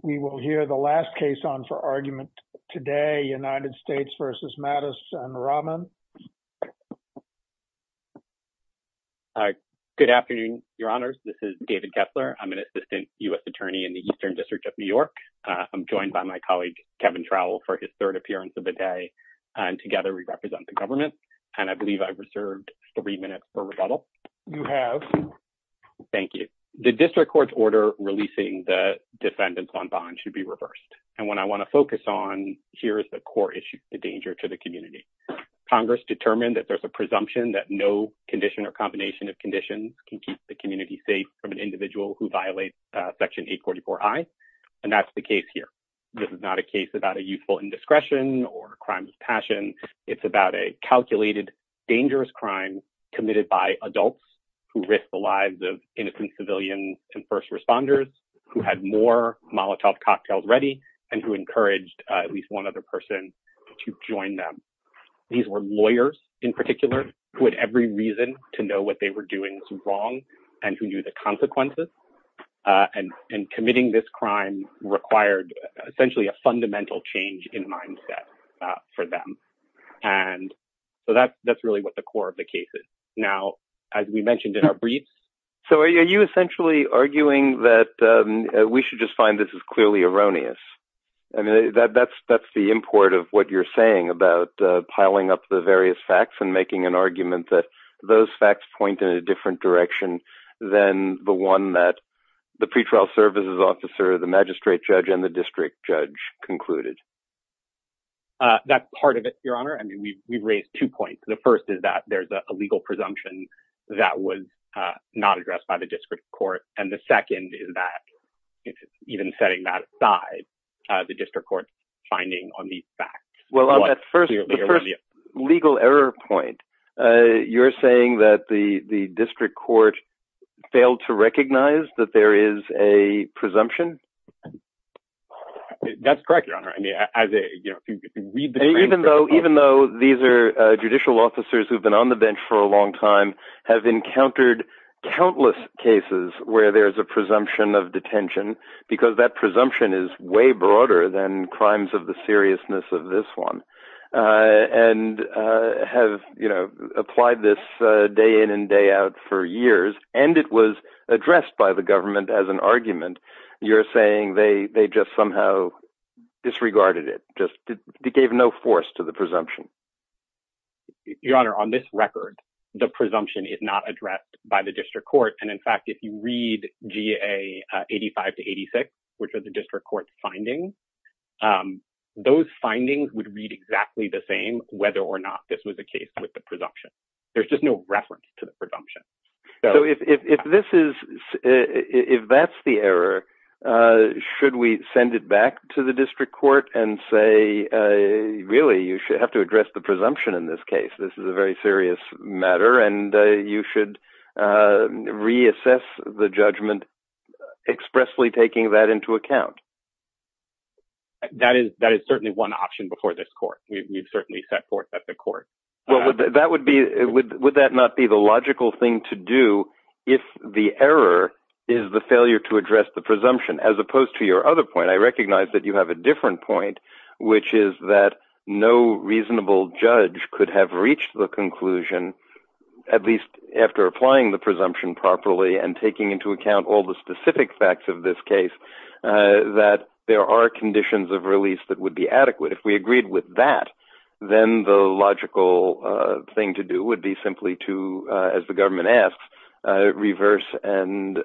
and Raman. Good afternoon, your honors. This is David Kessler. I'm an assistant U.S. attorney in the Eastern District of New York. I'm joined by my colleague, Kevin Trowell, for his third appearance of the day. And together we represent the government. And I believe I've reserved three minutes for rebuttal. You have. Thank you. The district court's order releasing the defendants on bond should be reversed. And what I want to focus on here is the core issue, the danger to the community. Congress determined that there's a presumption that no condition or combination of conditions can keep the community safe from an individual who violates Section 844I. And that's the case here. This is not a case about a youthful indiscretion or crime of passion. It's about a lives of innocent civilians and first responders who had more Molotov cocktails ready and who encouraged at least one other person to join them. These were lawyers, in particular, who had every reason to know what they were doing was wrong and who knew the consequences. And committing this crime required essentially a fundamental change in mindset for them. And so that that's really what the core of the case is. Now, as we mentioned in our briefs. So are you essentially arguing that we should just find this is clearly erroneous? I mean, that that's that's the import of what you're saying about piling up the various facts and making an argument that those facts point in a different direction than the one that the pretrial services officer, the magistrate judge and the district judge concluded. That's part of it, Your Honor. I mean, we've raised two points. The first is that there's a legal presumption that was not addressed by the district court. And the second is that even setting that aside, the district court finding on the facts. Well, that's first legal error point. You're saying that the district court failed to recognize that there is a you know, even though even though these are judicial officers who've been on the bench for a long time, have encountered countless cases where there is a presumption of detention, because that presumption is way broader than crimes of the seriousness of this one. And have, you know, applied this day in and day out for years. And it was addressed by the disregarded it just gave no force to the presumption. Your Honor, on this record, the presumption is not addressed by the district court. And in fact, if you read GA 85 to 86, which are the district court findings, those findings would read exactly the same whether or not this was the case with the presumption. There's just no reference to and say, really, you should have to address the presumption in this case. This is a very serious matter. And you should reassess the judgment, expressly taking that into account. That is that is certainly one option before this court, we've certainly set forth at the court. Well, that would be would that not be the logical thing to do? If the error is the failure to a different point, which is that no reasonable judge could have reached the conclusion, at least after applying the presumption properly and taking into account all the specific facts of this case, that there are conditions of release that would be adequate if we agreed with that, then the logical thing to do would be simply to, as the government asks, reverse and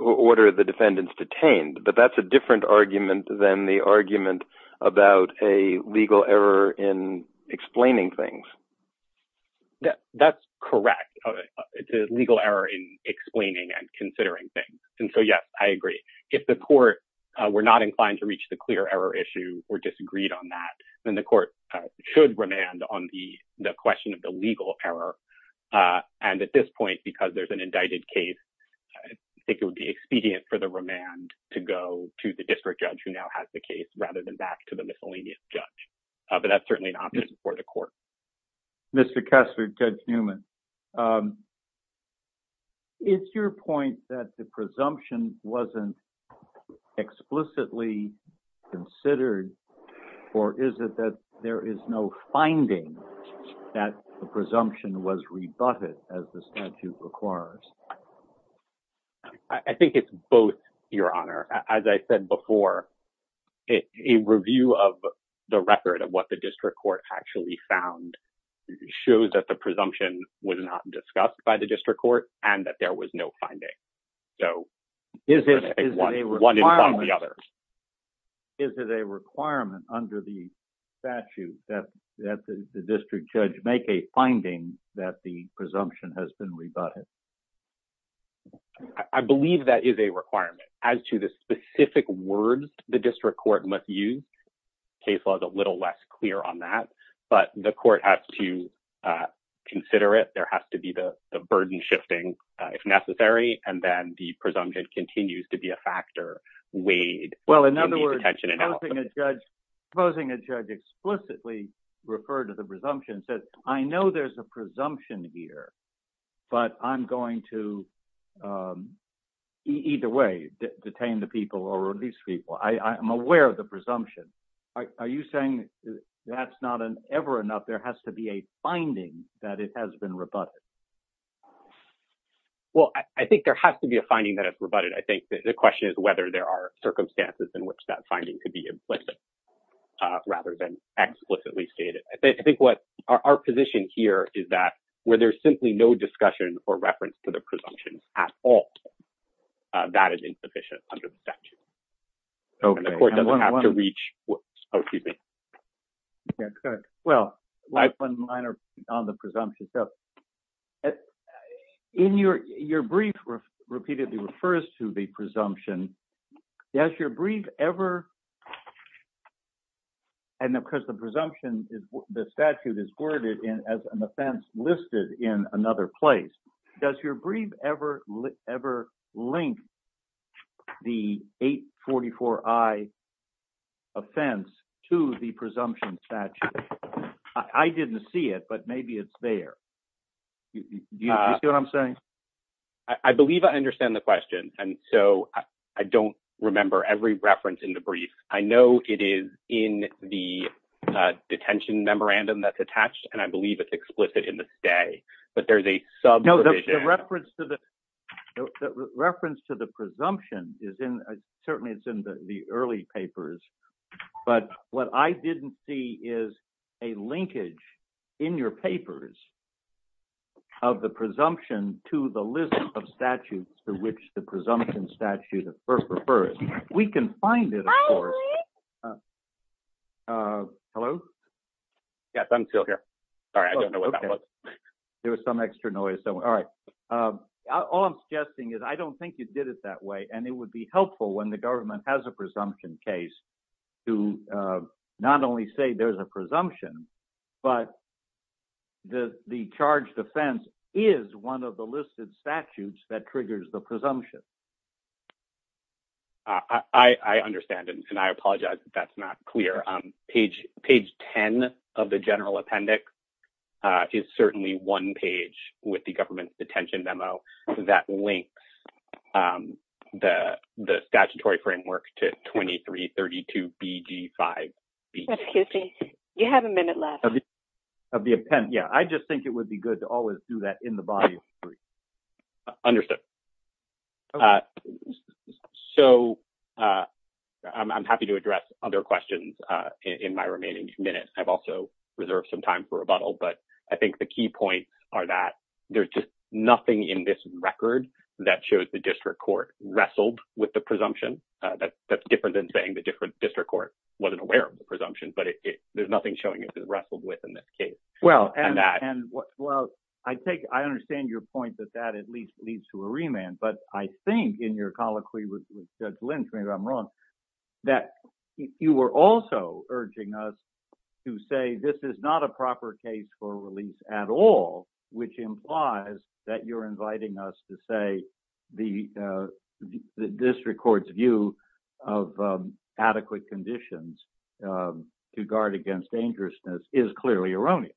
order the defendants detained. But that's a different argument than the argument about a legal error in explaining things. That's correct. It's a legal error in explaining and considering things. And so, yes, I agree. If the court were not inclined to reach the clear error issue or disagreed on that, then the court should remand on the question of the legal error. And at this point, because there's an indicted case, I think it would be expedient for the remand to go to the district judge who now has the case rather than back to the miscellaneous judge. But that's certainly an option for the court. Mr. Kessler, Judge Newman. It's your point that the presumption wasn't explicitly considered, or is it that there is no finding that the presumption was rebutted as the statute requires? I think it's both, Your Honor. As I said before, a review of the record of what the district court actually found shows that the presumption was not discussed by the district court and that was no finding. Is it a requirement under the statute that the district judge make a finding that the presumption has been rebutted? I believe that is a requirement. As to the specific words the district court must use, the case law is a little less clear on that. But the court has to consider it. There has to be the burden shifting if necessary. And then the presumption continues to be a factor weighed in the detention and out. Well, in other words, supposing a judge explicitly referred to the presumption and said, I know there's a presumption here, but I'm going to either way detain the people or release people. I'm aware of the presumption. Are you saying that's not ever enough? There has to be a finding that it has been rebutted. Well, I think there has to be a finding that it's rebutted. I think the question is whether there are circumstances in which that finding could be implicit rather than explicitly stated. I think what our position here is that where there's simply no discussion or reference to the presumptions at all, that is insufficient under the statute. And the court doesn't have to reach what... Oh, excuse me. Yeah, go ahead. Well, one minor on the presumption. In your brief repeatedly refers to the presumption. Does your brief ever... And of course, the presumption, the statute is worded as an offense listed in another place. Does your brief ever link the 844I offense to the presumption statute? I didn't see it, but maybe it's there. Do you see what I'm saying? I believe I understand the question. And so I don't remember every reference in the brief. I know it is in the detention memorandum that's attached, and I believe it's explicit in the but there's a sub... No, the reference to the presumption is in... Certainly, it's in the early papers. But what I didn't see is a linkage in your papers of the presumption to the list of statutes to which the presumption statute at first refers. We can find it, of course. Hello? Yes, I'm still here. Sorry, I don't know what that was. There was some extra noise. All right. All I'm suggesting is I don't think you did it that way, and it would be helpful when the government has a presumption case to not only say there's a presumption, but the charge defense is one of the listed statutes that triggers the presumption. I understand, and I apologize if that's not clear. Page 10 of the general appendix is certainly one page with the government's detention memo that links the statutory framework to 2332BD5B. Excuse me. You have a minute left. I just think it would be good to always do that in the body of the brief. Understood. So, I'm happy to address other questions in my remaining minutes. I've also reserved some time for rebuttal, but I think the key points are that there's just nothing in this record that shows the district court wrestled with the presumption. That's different than saying the district court wasn't aware of the presumption, but there's nothing showing it was that at least leads to a remand. But I think in your colloquy with Judge Lynch, maybe I'm wrong, that you were also urging us to say this is not a proper case for release at all, which implies that you're inviting us to say the district court's view of adequate conditions to guard against dangerousness is clearly erroneous.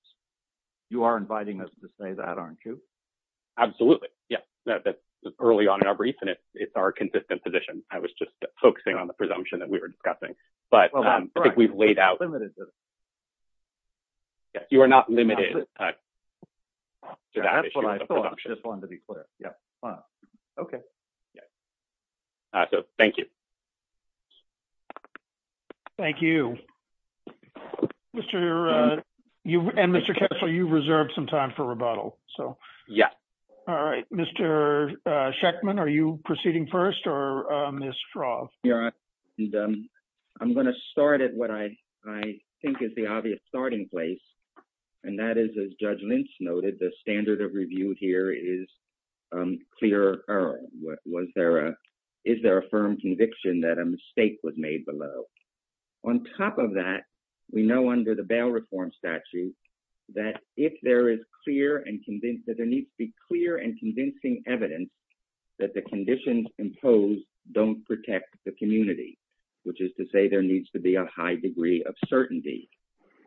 You are inviting us to say that, absolutely. Yes, that's early on in our brief, and it's our consistent position. I was just focusing on the presumption that we were discussing, but I think we've laid out. You are not limited to that. I just wanted to be clear. Yes. Okay. Yes. So, thank you. Thank you. Mr. and Mr. Kessler, you've reserved some time for rebuttal. So, yeah. All right. Mr. Schechtman, are you proceeding first or Ms. Froth? Yeah. I'm going to start at what I think is the obvious starting place, and that is, as Judge Lynch noted, the standard of review here is clear error. Is there a firm conviction that a mistake was made below? On top of that, we know under the bail reform statute that if there is clear and convinced that there needs to be clear and convincing evidence that the conditions imposed don't protect the community, which is to say there needs to be a high degree of certainty.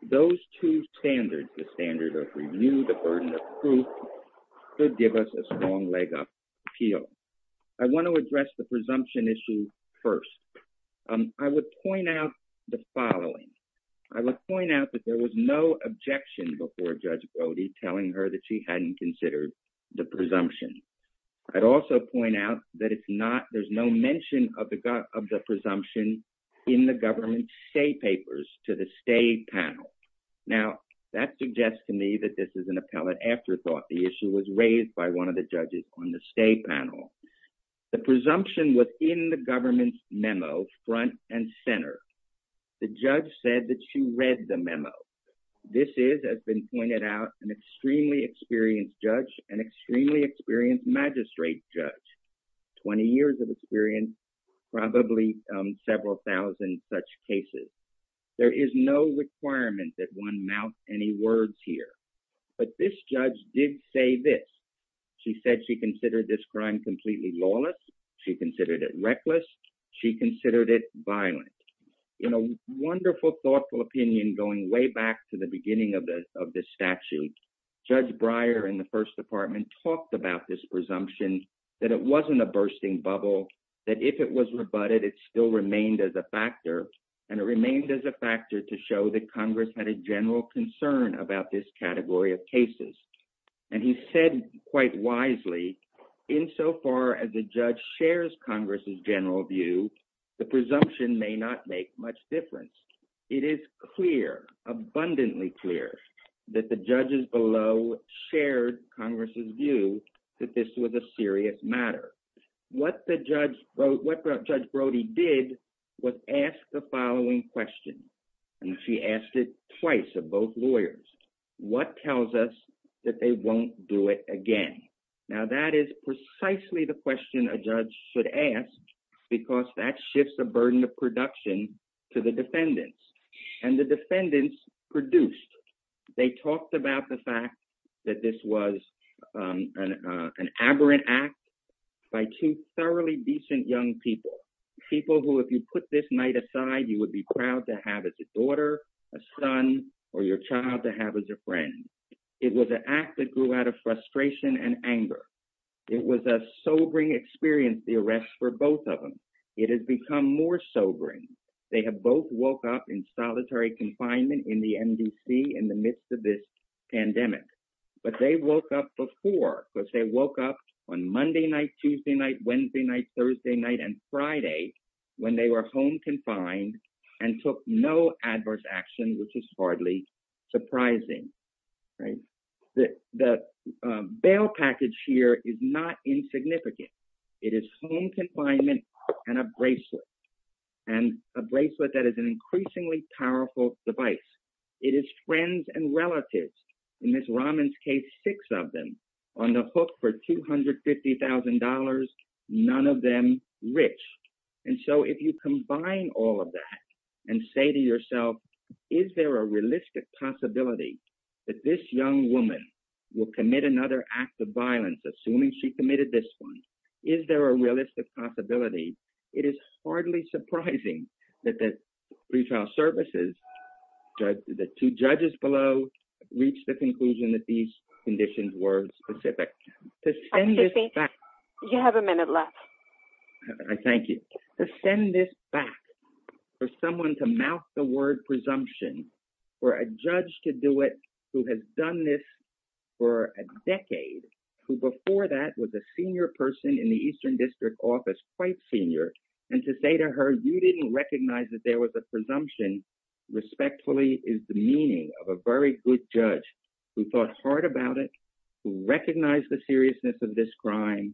Those two standards, the standard of review, the burden of proof, could give us a leg up appeal. I want to address the presumption issue first. I would point out the following. I would point out that there was no objection before Judge Brody telling her that she hadn't considered the presumption. I'd also point out that there's no mention of the presumption in the government state papers to the state panel. Now, that suggests to me that this is an appellate afterthought. The issue was raised by one of the judges on the state panel. The presumption was in the government's memo, front and center. The judge said that she read the memo. This is, as has been pointed out, an extremely experienced judge, an extremely experienced magistrate judge, 20 years of experience, probably several thousand such cases. There is no requirement that one mount any words here. But this judge did say this. She said she considered this crime completely lawless. She considered it reckless. She considered it violent. In a wonderful, thoughtful opinion going way back to the beginning of this statute, Judge Breyer in the first department talked about this presumption, that it wasn't a bursting bubble, that if it was to show that Congress had a general concern about this category of cases. And he said quite wisely, insofar as the judge shares Congress's general view, the presumption may not make much difference. It is clear, abundantly clear, that the judges below shared Congress's view that this was a And she asked it twice of both lawyers. What tells us that they won't do it again? Now, that is precisely the question a judge should ask, because that shifts the burden of production to the defendants. And the defendants produced. They talked about the fact that this was an aberrant act by two thoroughly decent young people, people who, if you put this night aside, you would be proud to have as a daughter, a son, or your child to have as a friend. It was an act that grew out of frustration and anger. It was a sobering experience, the arrest for both of them. It has become more sobering. They have both woke up in solitary confinement in the MDC in the midst of this pandemic. But they woke up before, because they woke up on Monday night, Tuesday night, and took no adverse action, which is hardly surprising. The bail package here is not insignificant. It is home confinement and a bracelet, and a bracelet that is an increasingly powerful device. It is friends and relatives, in Ms. Rahman's case, six of them, on the hook for $250,000, none of them rich. And so if you combine all of that and say to yourself, is there a realistic possibility that this young woman will commit another act of violence, assuming she committed this one? Is there a realistic possibility? It is hardly surprising that the retrial services, the two judges below, reached the conclusion that these conditions were specific. To send this back. You have a minute left. Thank you. To send this back, for someone to mouth the word presumption, for a judge to do it who has done this for a decade, who before that was a senior person in the Eastern District Office, quite senior, and to say to her, you didn't recognize that there was a presumption, respectfully, is the meaning of a very good judge who thought hard about it, who recognized the seriousness of this crime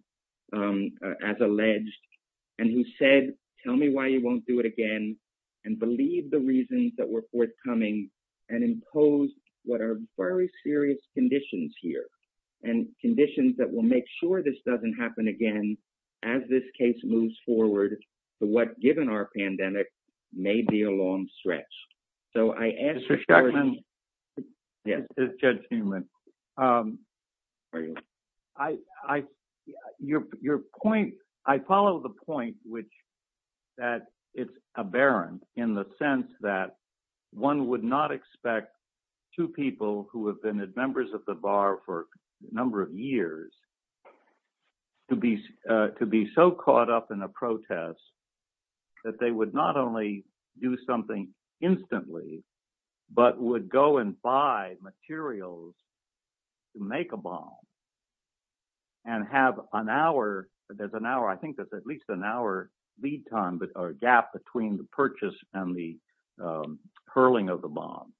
as alleged, and who said, tell me why you won't do it again, and believed the reasons that were forthcoming, and imposed what are very serious conditions here, and conditions that will make sure this doesn't happen again as this case moves forward to what, given our pandemic, may be a long stretch. So, I ask. Mr. Schechtman. Yes. Judge Newman. Your point, I follow the point, which, that it's aberrant in the sense that one would not expect two people who have been members of the bar for a number of years to be so caught up in a protest that they would not only do something instantly, but would go and buy materials to make a bomb, and have an hour, there's an hour, I think that's at least an hour lead time, or gap between the purchase and the hurling of the bomb,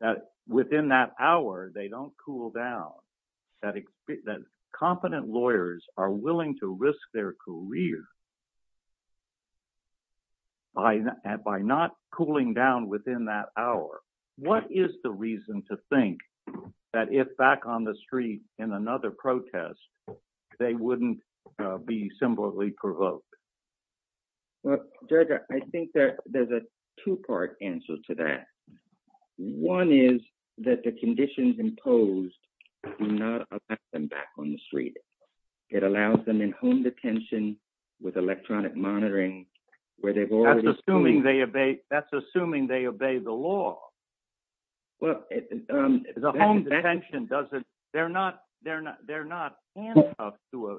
that within that hour, they don't cool down, that competent lawyers are willing to risk their career by not cooling down within that hour. What is the reason to think that if back on the street in another protest, they wouldn't be symbolically provoked? Well, Judge, I think that there's a two-part answer to that. One is that the conditions imposed do not allow them back on the street. It allows them in home detention with electronic monitoring, where they've already- That's assuming they obey the law. Well, the home detention doesn't, they're not, they're not, they're not handcuffed to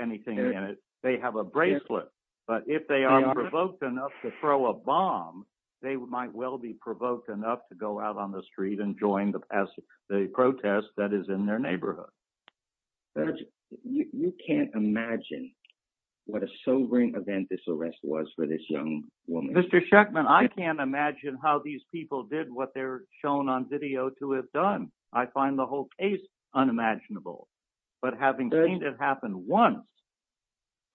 anything in it. They have a bracelet. But if they are provoked enough to throw a bomb, they might well be provoked enough to go out on the street and join the protest that is in their neighborhood. Judge, you can't imagine what a sobering event this arrest was for this young woman. Mr. Shuckman, I can't imagine how these people did what they're shown on video to have done. I find the whole case unimaginable. But having seen it happen once,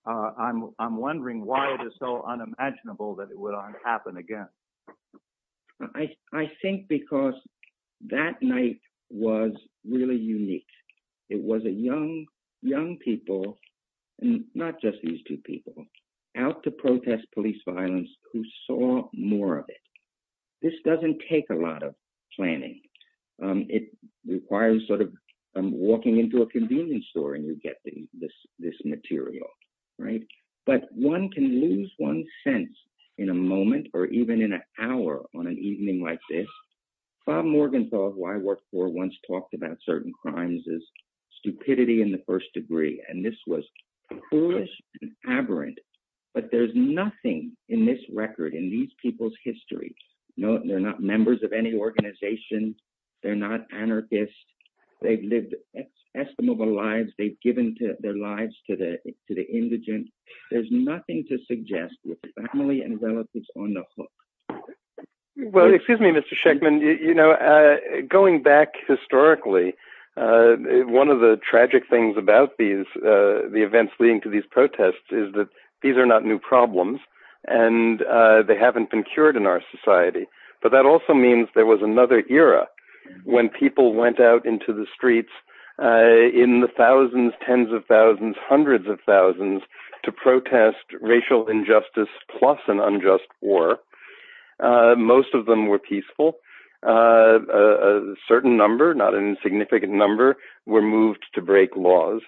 I'm wondering why it is so unimaginable that it would happen again. I think because that night was really unique. It was a young, young people, not just these two people, out to protest police violence who saw more of it. This doesn't take a requires sort of walking into a convenience store and you get this material, right? But one can lose one's sense in a moment or even in an hour on an evening like this. Bob Morgenthau, who I worked for, once talked about certain crimes as stupidity in the first degree. And this was foolish and aberrant. But there's nothing in this record, in these people's history, no, they're not members of any organization. They're not anarchists. They've lived estimable lives. They've given their lives to the indigent. There's nothing to suggest with the family and relatives on the hook. Well, excuse me, Mr. Shuckman, you know, going back historically, one of the tragic things about these, the events leading to these protests is that these are not new problems, and they haven't been cured in our society. But that also means there was another era when people went out into the streets in the thousands, tens of thousands, hundreds of thousands to protest racial injustice, plus an unjust war. Most of them were peaceful. A certain number, not an insignificant number, were moved to break laws.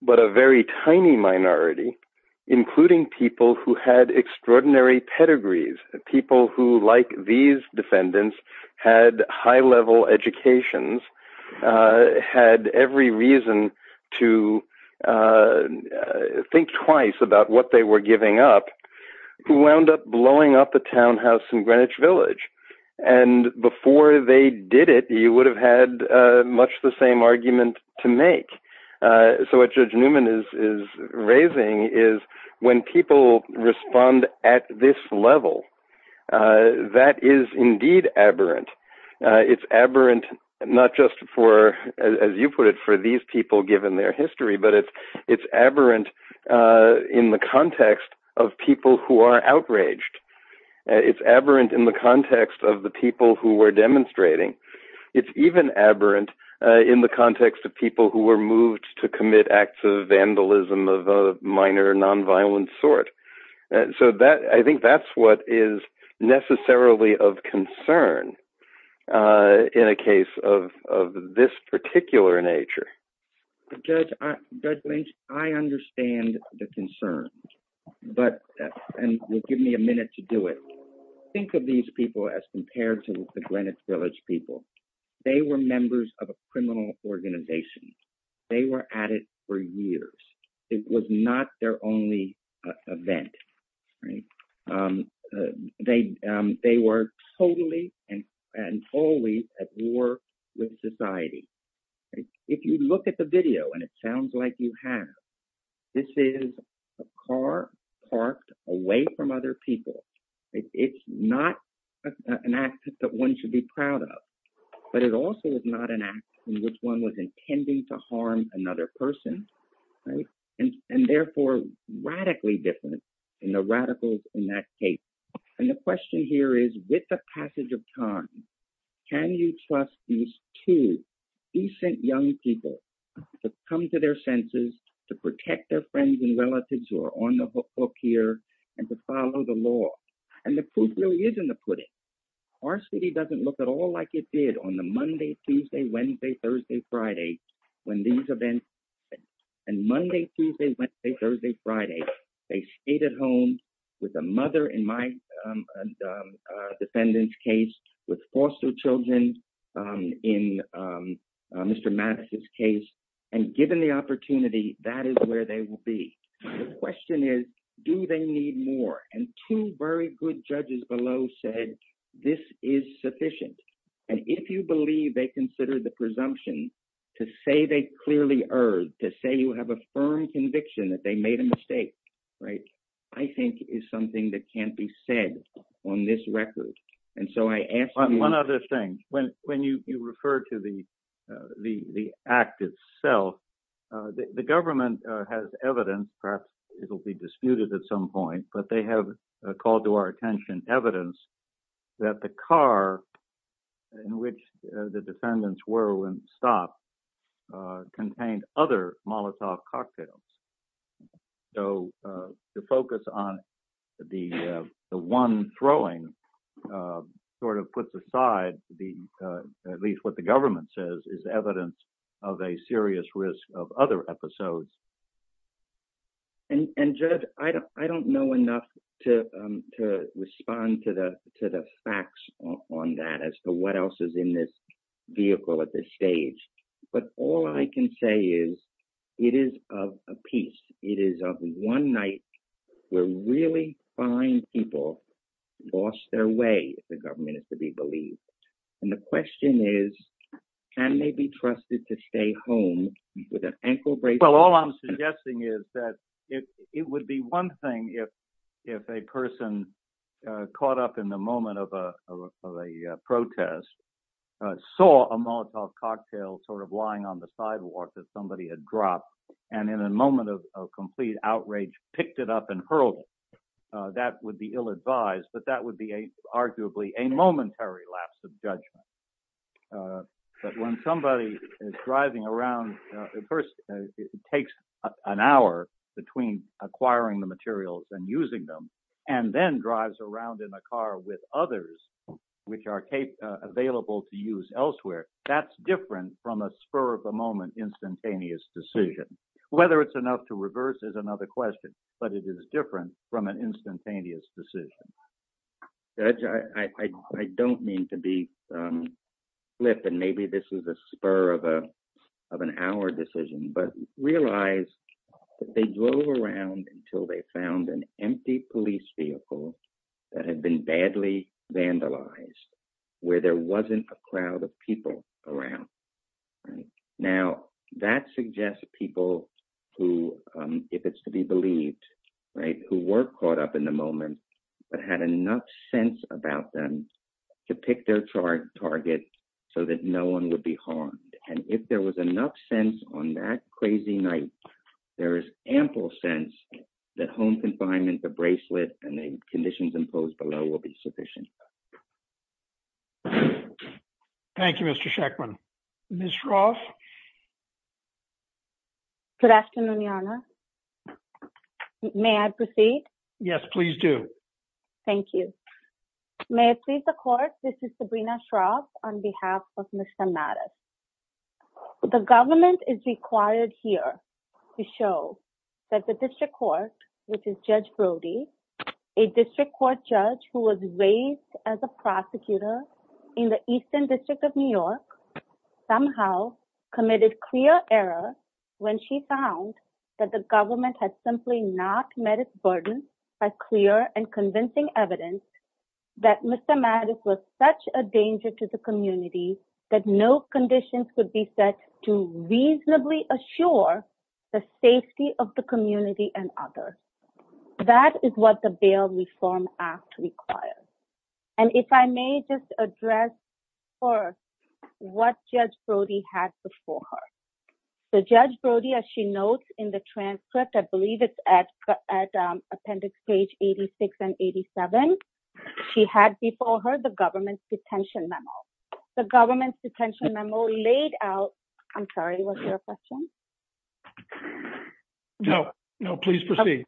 But a very tiny minority, including people who had extraordinary pedigrees, people who, like these defendants, had high level educations, had every reason to think twice about what they were giving up, who wound up blowing up the townhouse in Greenwich Village. And before they did it, you would have had much the same argument to make. So what Judge Newman is raising is when people respond at this level, that is indeed aberrant. It's aberrant, not just for, as you put it, for these people given their history, but it's aberrant in the context of people who are outraged. It's aberrant in the context of the people who were demonstrating. It's even aberrant in the context of people who were moved to commit acts of vandalism of a minor nonviolent sort. So that, I think that's what is necessarily of concern in a case of this particular nature. Judge Lynch, I understand the concern, and you'll give me a minute to do it. Think of these people as compared to the Greenwich Village people. They were members of a criminal organization. They were at it for years. It was not their only event. They were totally and wholly at war with society. If you look at the video, and it sounds like you have, this is a car parked away from other people. It's not an act that one should be proud of, but it also is not an act in which one was intending to harm another person, and therefore radically different in the radicals in that case. And the question here is, with the passage of time, can you trust these two decent young people to come to their senses, to protect their friends and relatives who are on the hook here, and to follow the law? And the proof really isn't the pudding. Our city doesn't look at all like it on the Monday, Tuesday, Wednesday, Thursday, Friday, when these events happened. And Monday, Tuesday, Wednesday, Thursday, Friday, they stayed at home with a mother in my defendant's case, with foster children in Mr. Madison's case, and given the opportunity, that is where they will be. The question is, do they need more? And two very good judges below said, this is sufficient. And if you believe they consider the presumption to say they clearly erred, to say you have a firm conviction that they made a mistake, right, I think is something that can't be said on this record. And so I ask you- One other thing, when you refer to the act itself, the government has evidence, perhaps it'll be disputed at some point, but they have called to our attention evidence that the car in which the defendants were when stopped contained other Molotov cocktails. So the focus on the one throwing sort of puts aside at least what the government says is evidence of a serious risk of other episodes. And Judge, I don't know enough to respond to the facts on that as to what else is in this vehicle at this stage. But all I can say is, it is of a piece. It is of one night where really fine people lost their way if the government is to be believed. And the question is, can they be trusted to stay home with an ankle brace? Well, all I'm suggesting is that it would be one thing if a person caught up in the moment of a protest, saw a Molotov cocktail sort of lying on the sidewalk that somebody had dropped, and in a moment of complete outrage, picked it up and hurled it. That would be ill advised, but that would be arguably a momentary lapse of judgment. But when somebody is driving around, first it takes an hour between acquiring the materials and using them, and then drives around in a car with others which are available to use elsewhere, that's different from a spur of the moment instantaneous decision. Whether it's enough to reverse is another question, but it is different from an instantaneous decision. Judge, I don't mean to be flip and maybe this is a spur of an hour decision, but realize that they drove around until they found an empty police vehicle that had been badly vandalized, where there wasn't a crowd of people around. Now, that suggests people who, if it's to be believed, who were caught up in the moment, but had enough sense about them to pick their target so that no one would be harmed. And if there was enough sense on that crazy night, there is ample sense that home confinement, the bracelet, and the conditions imposed below will be sufficient. Thank you, Mr. Shachman. Ms. Roth? Good afternoon, Your Honor. May I proceed? Yes, please do. Thank you. May it please the Court, this is Sabrina Shroff on behalf of Mr. Mattis. The government is required here to show that the district court, which is Judge Brody, a district court judge who was raised as a prosecutor in the Eastern District of New York, somehow committed clear error when she found that the government had simply not met its burden by clear and convincing evidence that Mr. Mattis was such a danger to the community that no conditions could be set to reasonably assure the safety of the community and others. That is what the Bail Reform Act requires. And if I may just address first what Judge Brody had before her. So Judge Brody, as she notes in the transcript, I believe it's at appendix page 86 and 87, she had before her the government's detention memo. The government's detention memo laid out, I'm sorry, was there a question? No, no, please proceed.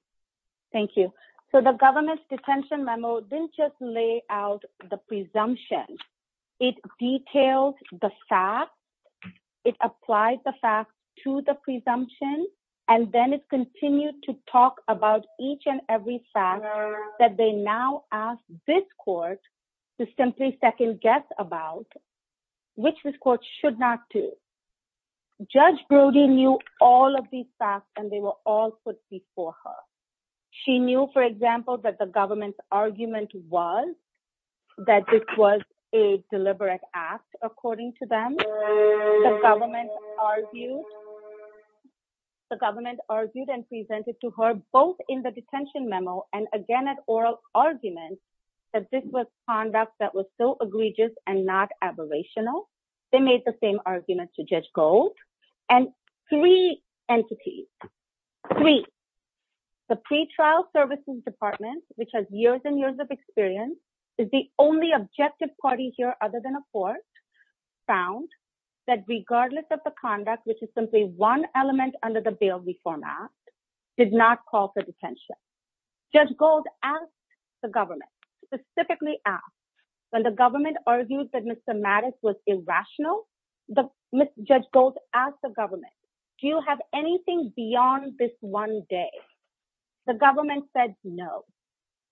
Thank you. So the government's detention memo didn't just lay out the presumption, it details the facts, it applies the facts to the presumption, and then it continued to talk about each and every fact that they now ask this court to simply second guess about, which this court should not do. Judge Brody knew all of these facts and they were all put before her. She knew, for example, that the government's argument was that this was a deliberate act, according to them. The government argued and presented to her both in the detention memo and again at oral argument that this was conduct that was so egregious and not aberrational. They made the same argument to Judge Gold and three entities, three, the pre-trial services department, which has years and years of experience is the only objective party here other than a court, found that regardless of the conduct, which is simply one element under the bail reform act, did not call for detention. Judge Gold asked the government, specifically asked, when the government argued that Mr. Mattis was irrational, Judge Gold asked the government, do you have anything beyond this one day? The government said no.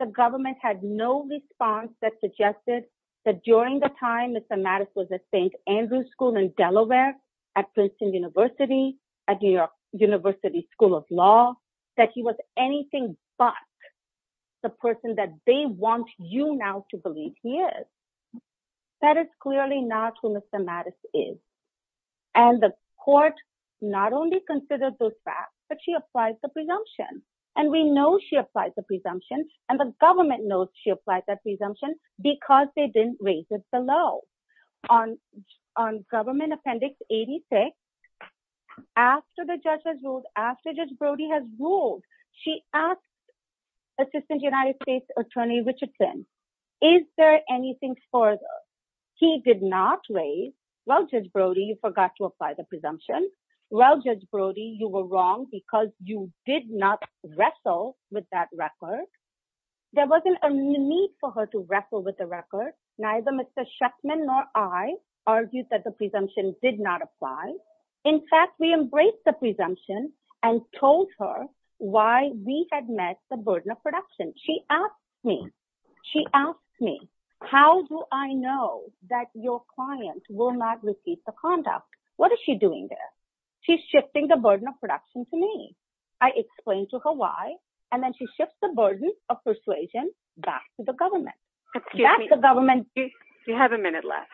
The government had no response that suggested that during the time Mr. Mattis was at St. Andrew's School in Delaware, at Princeton University, at New York University School of Law, that he was anything but the person that they want you now to that is clearly not who Mr. Mattis is. And the court not only considered those facts, but she applies the presumption. And we know she applied the presumption and the government knows she applied that presumption because they didn't raise it below. On government appendix 86, after the judge has ruled, after Judge Brody has ruled, she asked Assistant United States Attorney Richardson, is there anything further? He did not raise, well, Judge Brody, you forgot to apply the presumption. Well, Judge Brody, you were wrong because you did not wrestle with that record. There wasn't a need for her to wrestle with the record. Neither Mr. Sheffman nor I argued that the presumption did not apply. In fact, we embraced the presumption and told her why we had met the burden of production. She asked me, she asked me, how do I know that your client will not receive the conduct? What is she doing there? She's shifting the burden of production to me. I explained to her why, and then she shifts the burden of persuasion back to the government. That's the government. You have a minute left.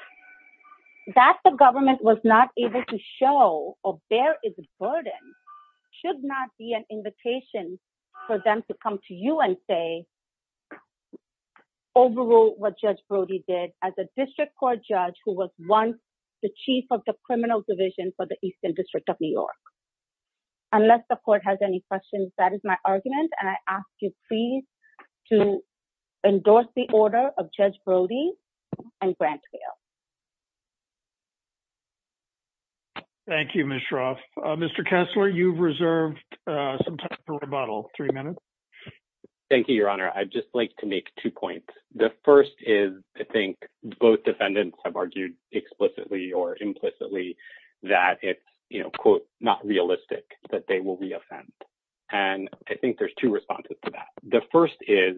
That the government was not able to show or bear its burden should not be an invitation for them to come to you and say, overrule what Judge Brody did as a district court judge who was once the chief of the criminal division for the Eastern District of New York. Unless the court has any questions, that is my argument, and I ask you please to endorse the order of Judge Brody and grant bail. Thank you, Ms. Shroff. Mr. Kessler, you've reserved some time for rebuttal. Three minutes. Thank you, Your Honor. I'd just like to make two points. The first is, I think, both defendants have argued explicitly or implicitly that it's, you know, quote, not realistic that they will reoffend. And I think there's two responses to that. The first is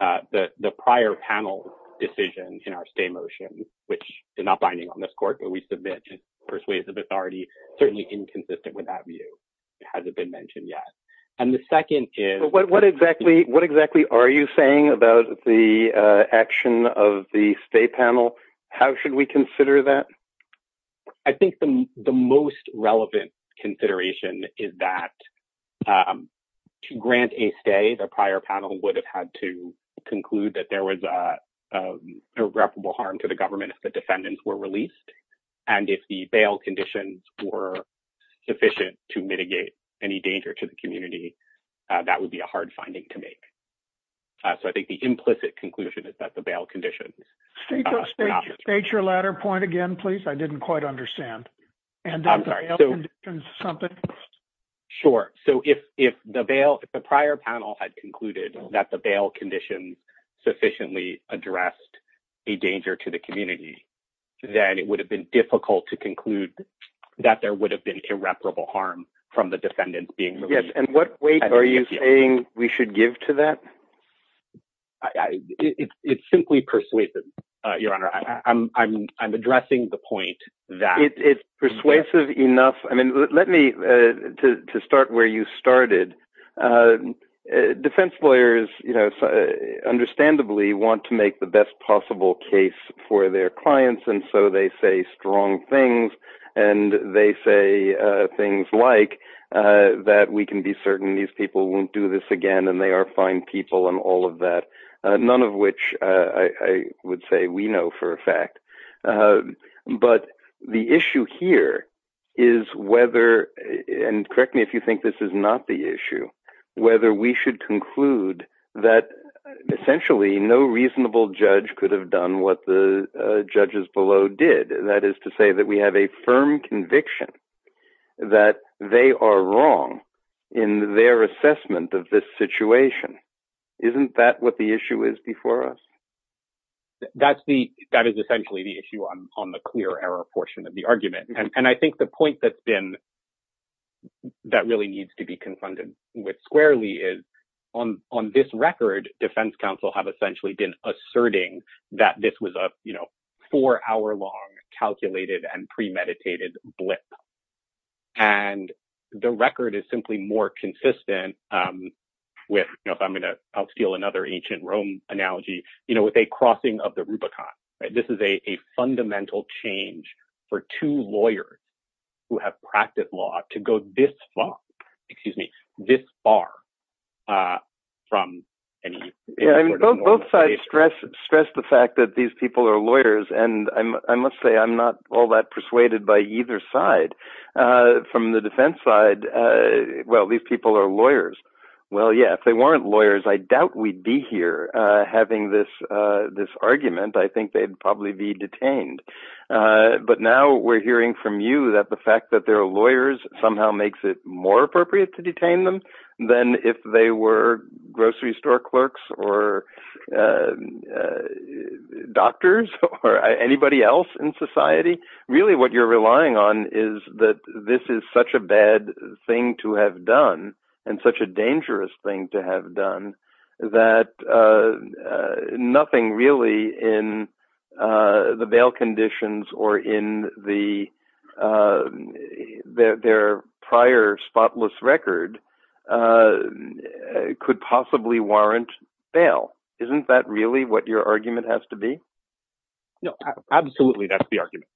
that the prior panel decision in our stay motion, which is not binding on this court, but we submit and persuade the authority, certainly inconsistent with that view. It hasn't been mentioned yet. And the second is... But what exactly are you saying about the action of the stay panel? How should we consider that? I think the most relevant consideration is that to grant a stay, the prior panel would have had to harm to the government if the defendants were released. And if the bail conditions were sufficient to mitigate any danger to the community, that would be a hard finding to make. So I think the implicit conclusion is that the bail conditions... State your latter point again, please. I didn't quite understand. Sure. So if the bail, the prior panel had concluded that the bail conditions sufficiently addressed a danger to the community, then it would have been difficult to conclude that there would have been irreparable harm from the defendant being released. Yes. And what weight are you saying we should give to that? It's simply persuasive, Your Honor. I'm addressing the point that... It's persuasive enough. I mean, let me, to start where you started, defense lawyers, you know, understandably want to make the best possible case for their clients. And so they say strong things and they say things like that we can be certain these people won't do this again, and they are fine people and all of that. None of which I would say we know for a fact. But the issue here is whether, and correct me if you think this is not the issue, whether we should conclude that essentially no reasonable judge could have done what the judges below did. That is to say that we have a firm conviction that they are wrong in their assessment of this situation. Isn't that what the issue is before us? That's the, that is essentially the issue on the clear error portion of the argument. And I think the point that's been, that really needs to be confronted with squarely is on this record, defense counsel have essentially been asserting that this was a, you know, four hour long calculated and premeditated blip. And the record is simply more consistent with, you know, if I'm going to, I'll steal another ancient Rome analogy, you know, with a crossing of the Rubicon. This is a fundamental change for two lawyers who have practiced law to go this far, excuse me, this far from any. Yeah, both sides stress the fact that these people are lawyers. And I must say, I'm not all that persuaded by either side. From the defense side, well, these people are lawyers. Well, yeah, if they weren't lawyers, I doubt we'd be here having this argument. I think they'd probably be detained. But now we're hearing from you that the fact that they're lawyers somehow makes it more appropriate to detain them than if they were grocery store clerks or doctors or anybody else in society. Really what you're relying on is that this is such a bad thing to have done and such a dangerous thing to have done that nothing really in the bail conditions or in their prior spotless record could possibly warrant bail. Isn't that really what your argument has to be? No, absolutely. That's the argument.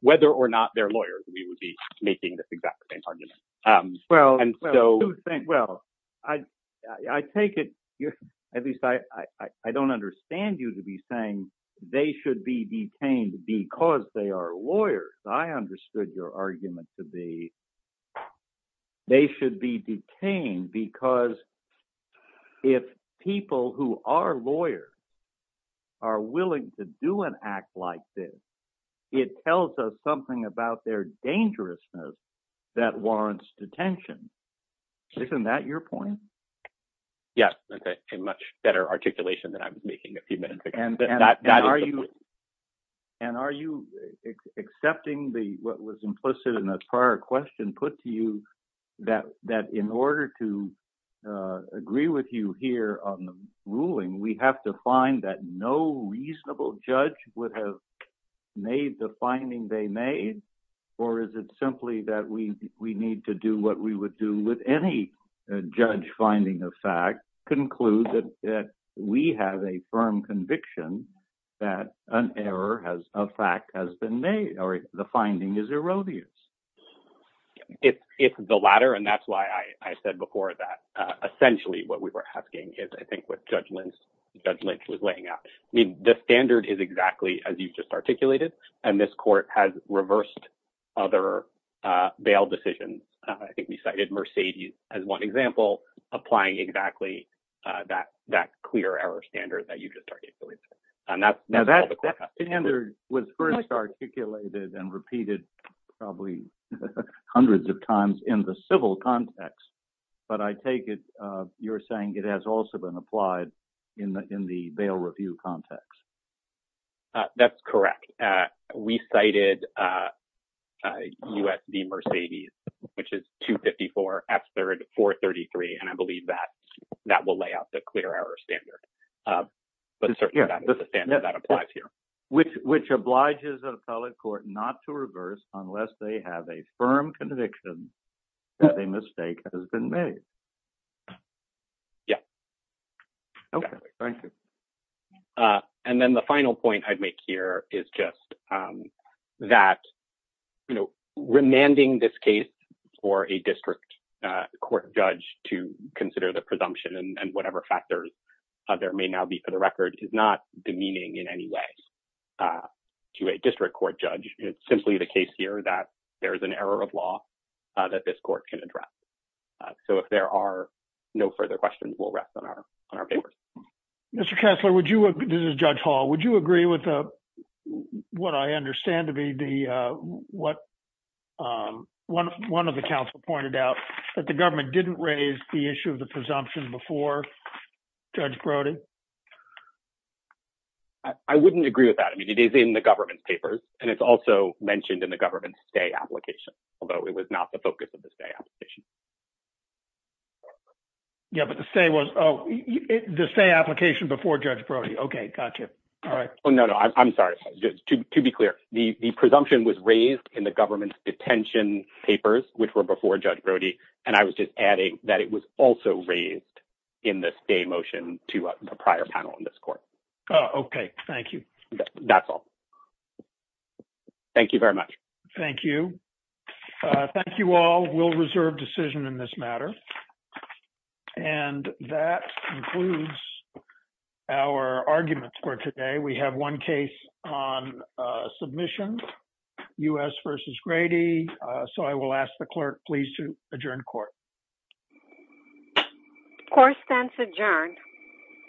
Whether or not they're lawyers, we would be making this exact same argument. Well, I take it, at least I don't understand you to be saying they should be detained because they are lawyers. I understood your argument to be they should be detained because if people who are lawyers are willing to do an act like this, it tells us something about their dangerousness that warrants detention. Isn't that your point? Yes. That's a much better articulation than I was making a few minutes ago. And are you accepting what was implicit in a prior question put to you that in order to agree with you here on the ruling, we have to find that no reasonable judge would have made the finding they made? Or is it simply that we need to do what we would do with any judge finding a fact, conclude that we have a firm conviction that an error of fact has been made, or the finding is erroneous? It's the latter, and that's why I said before that essentially what we were asking is I think what Judge Lynch was laying out. The standard is exactly as you've just articulated, and this court has reversed other bail decisions. I think we cited Mercedes as one example, applying exactly that clear error standard that you've just articulated. Now that standard was first articulated and repeated probably hundreds of times in the civil context, but I take it you're saying it has also been applied in the bail review context. That's correct. We cited U.S. v. Mercedes, which is 254, F-3rd, 433, and I believe that will lay out the clear error standard, but certainly that's the standard that applies here. Which obliges an appellate court not to reverse unless they have a firm conviction that a mistake has been made. Okay. Thank you. And then the final point I'd make here is just that remanding this case for a district court judge to consider the presumption and whatever factors there may now be for the record is not demeaning in any way to a district court judge. It's simply the case here that there is an error of law that this court can address. So if there are no further questions, we'll rest on our papers. Mr. Kessler, this is Judge Hall. Would you agree with what I understand to be what one of the counsel pointed out, that the government didn't raise the issue of the presumption before Judge Brody? I wouldn't agree with that. I mean, it's in the government's papers, and it's also mentioned in the government's stay application, although it was not the focus of the stay application. Yeah, but the stay application before Judge Brody. Okay. Gotcha. All right. Oh, no, no. I'm sorry. To be clear, the presumption was raised in the government's detention papers, which were before Judge Brody, and I was just adding that it was also raised in the stay motion to the prior panel in this court. Oh, okay. Thank you. That's all. Thank you very much. Thank you. Thank you all. We'll reserve decision in this matter. And that concludes our arguments for today. We have one case on submission, U.S. versus Grady. So I will ask the clerk, please, to adjourn court. Court stands adjourned.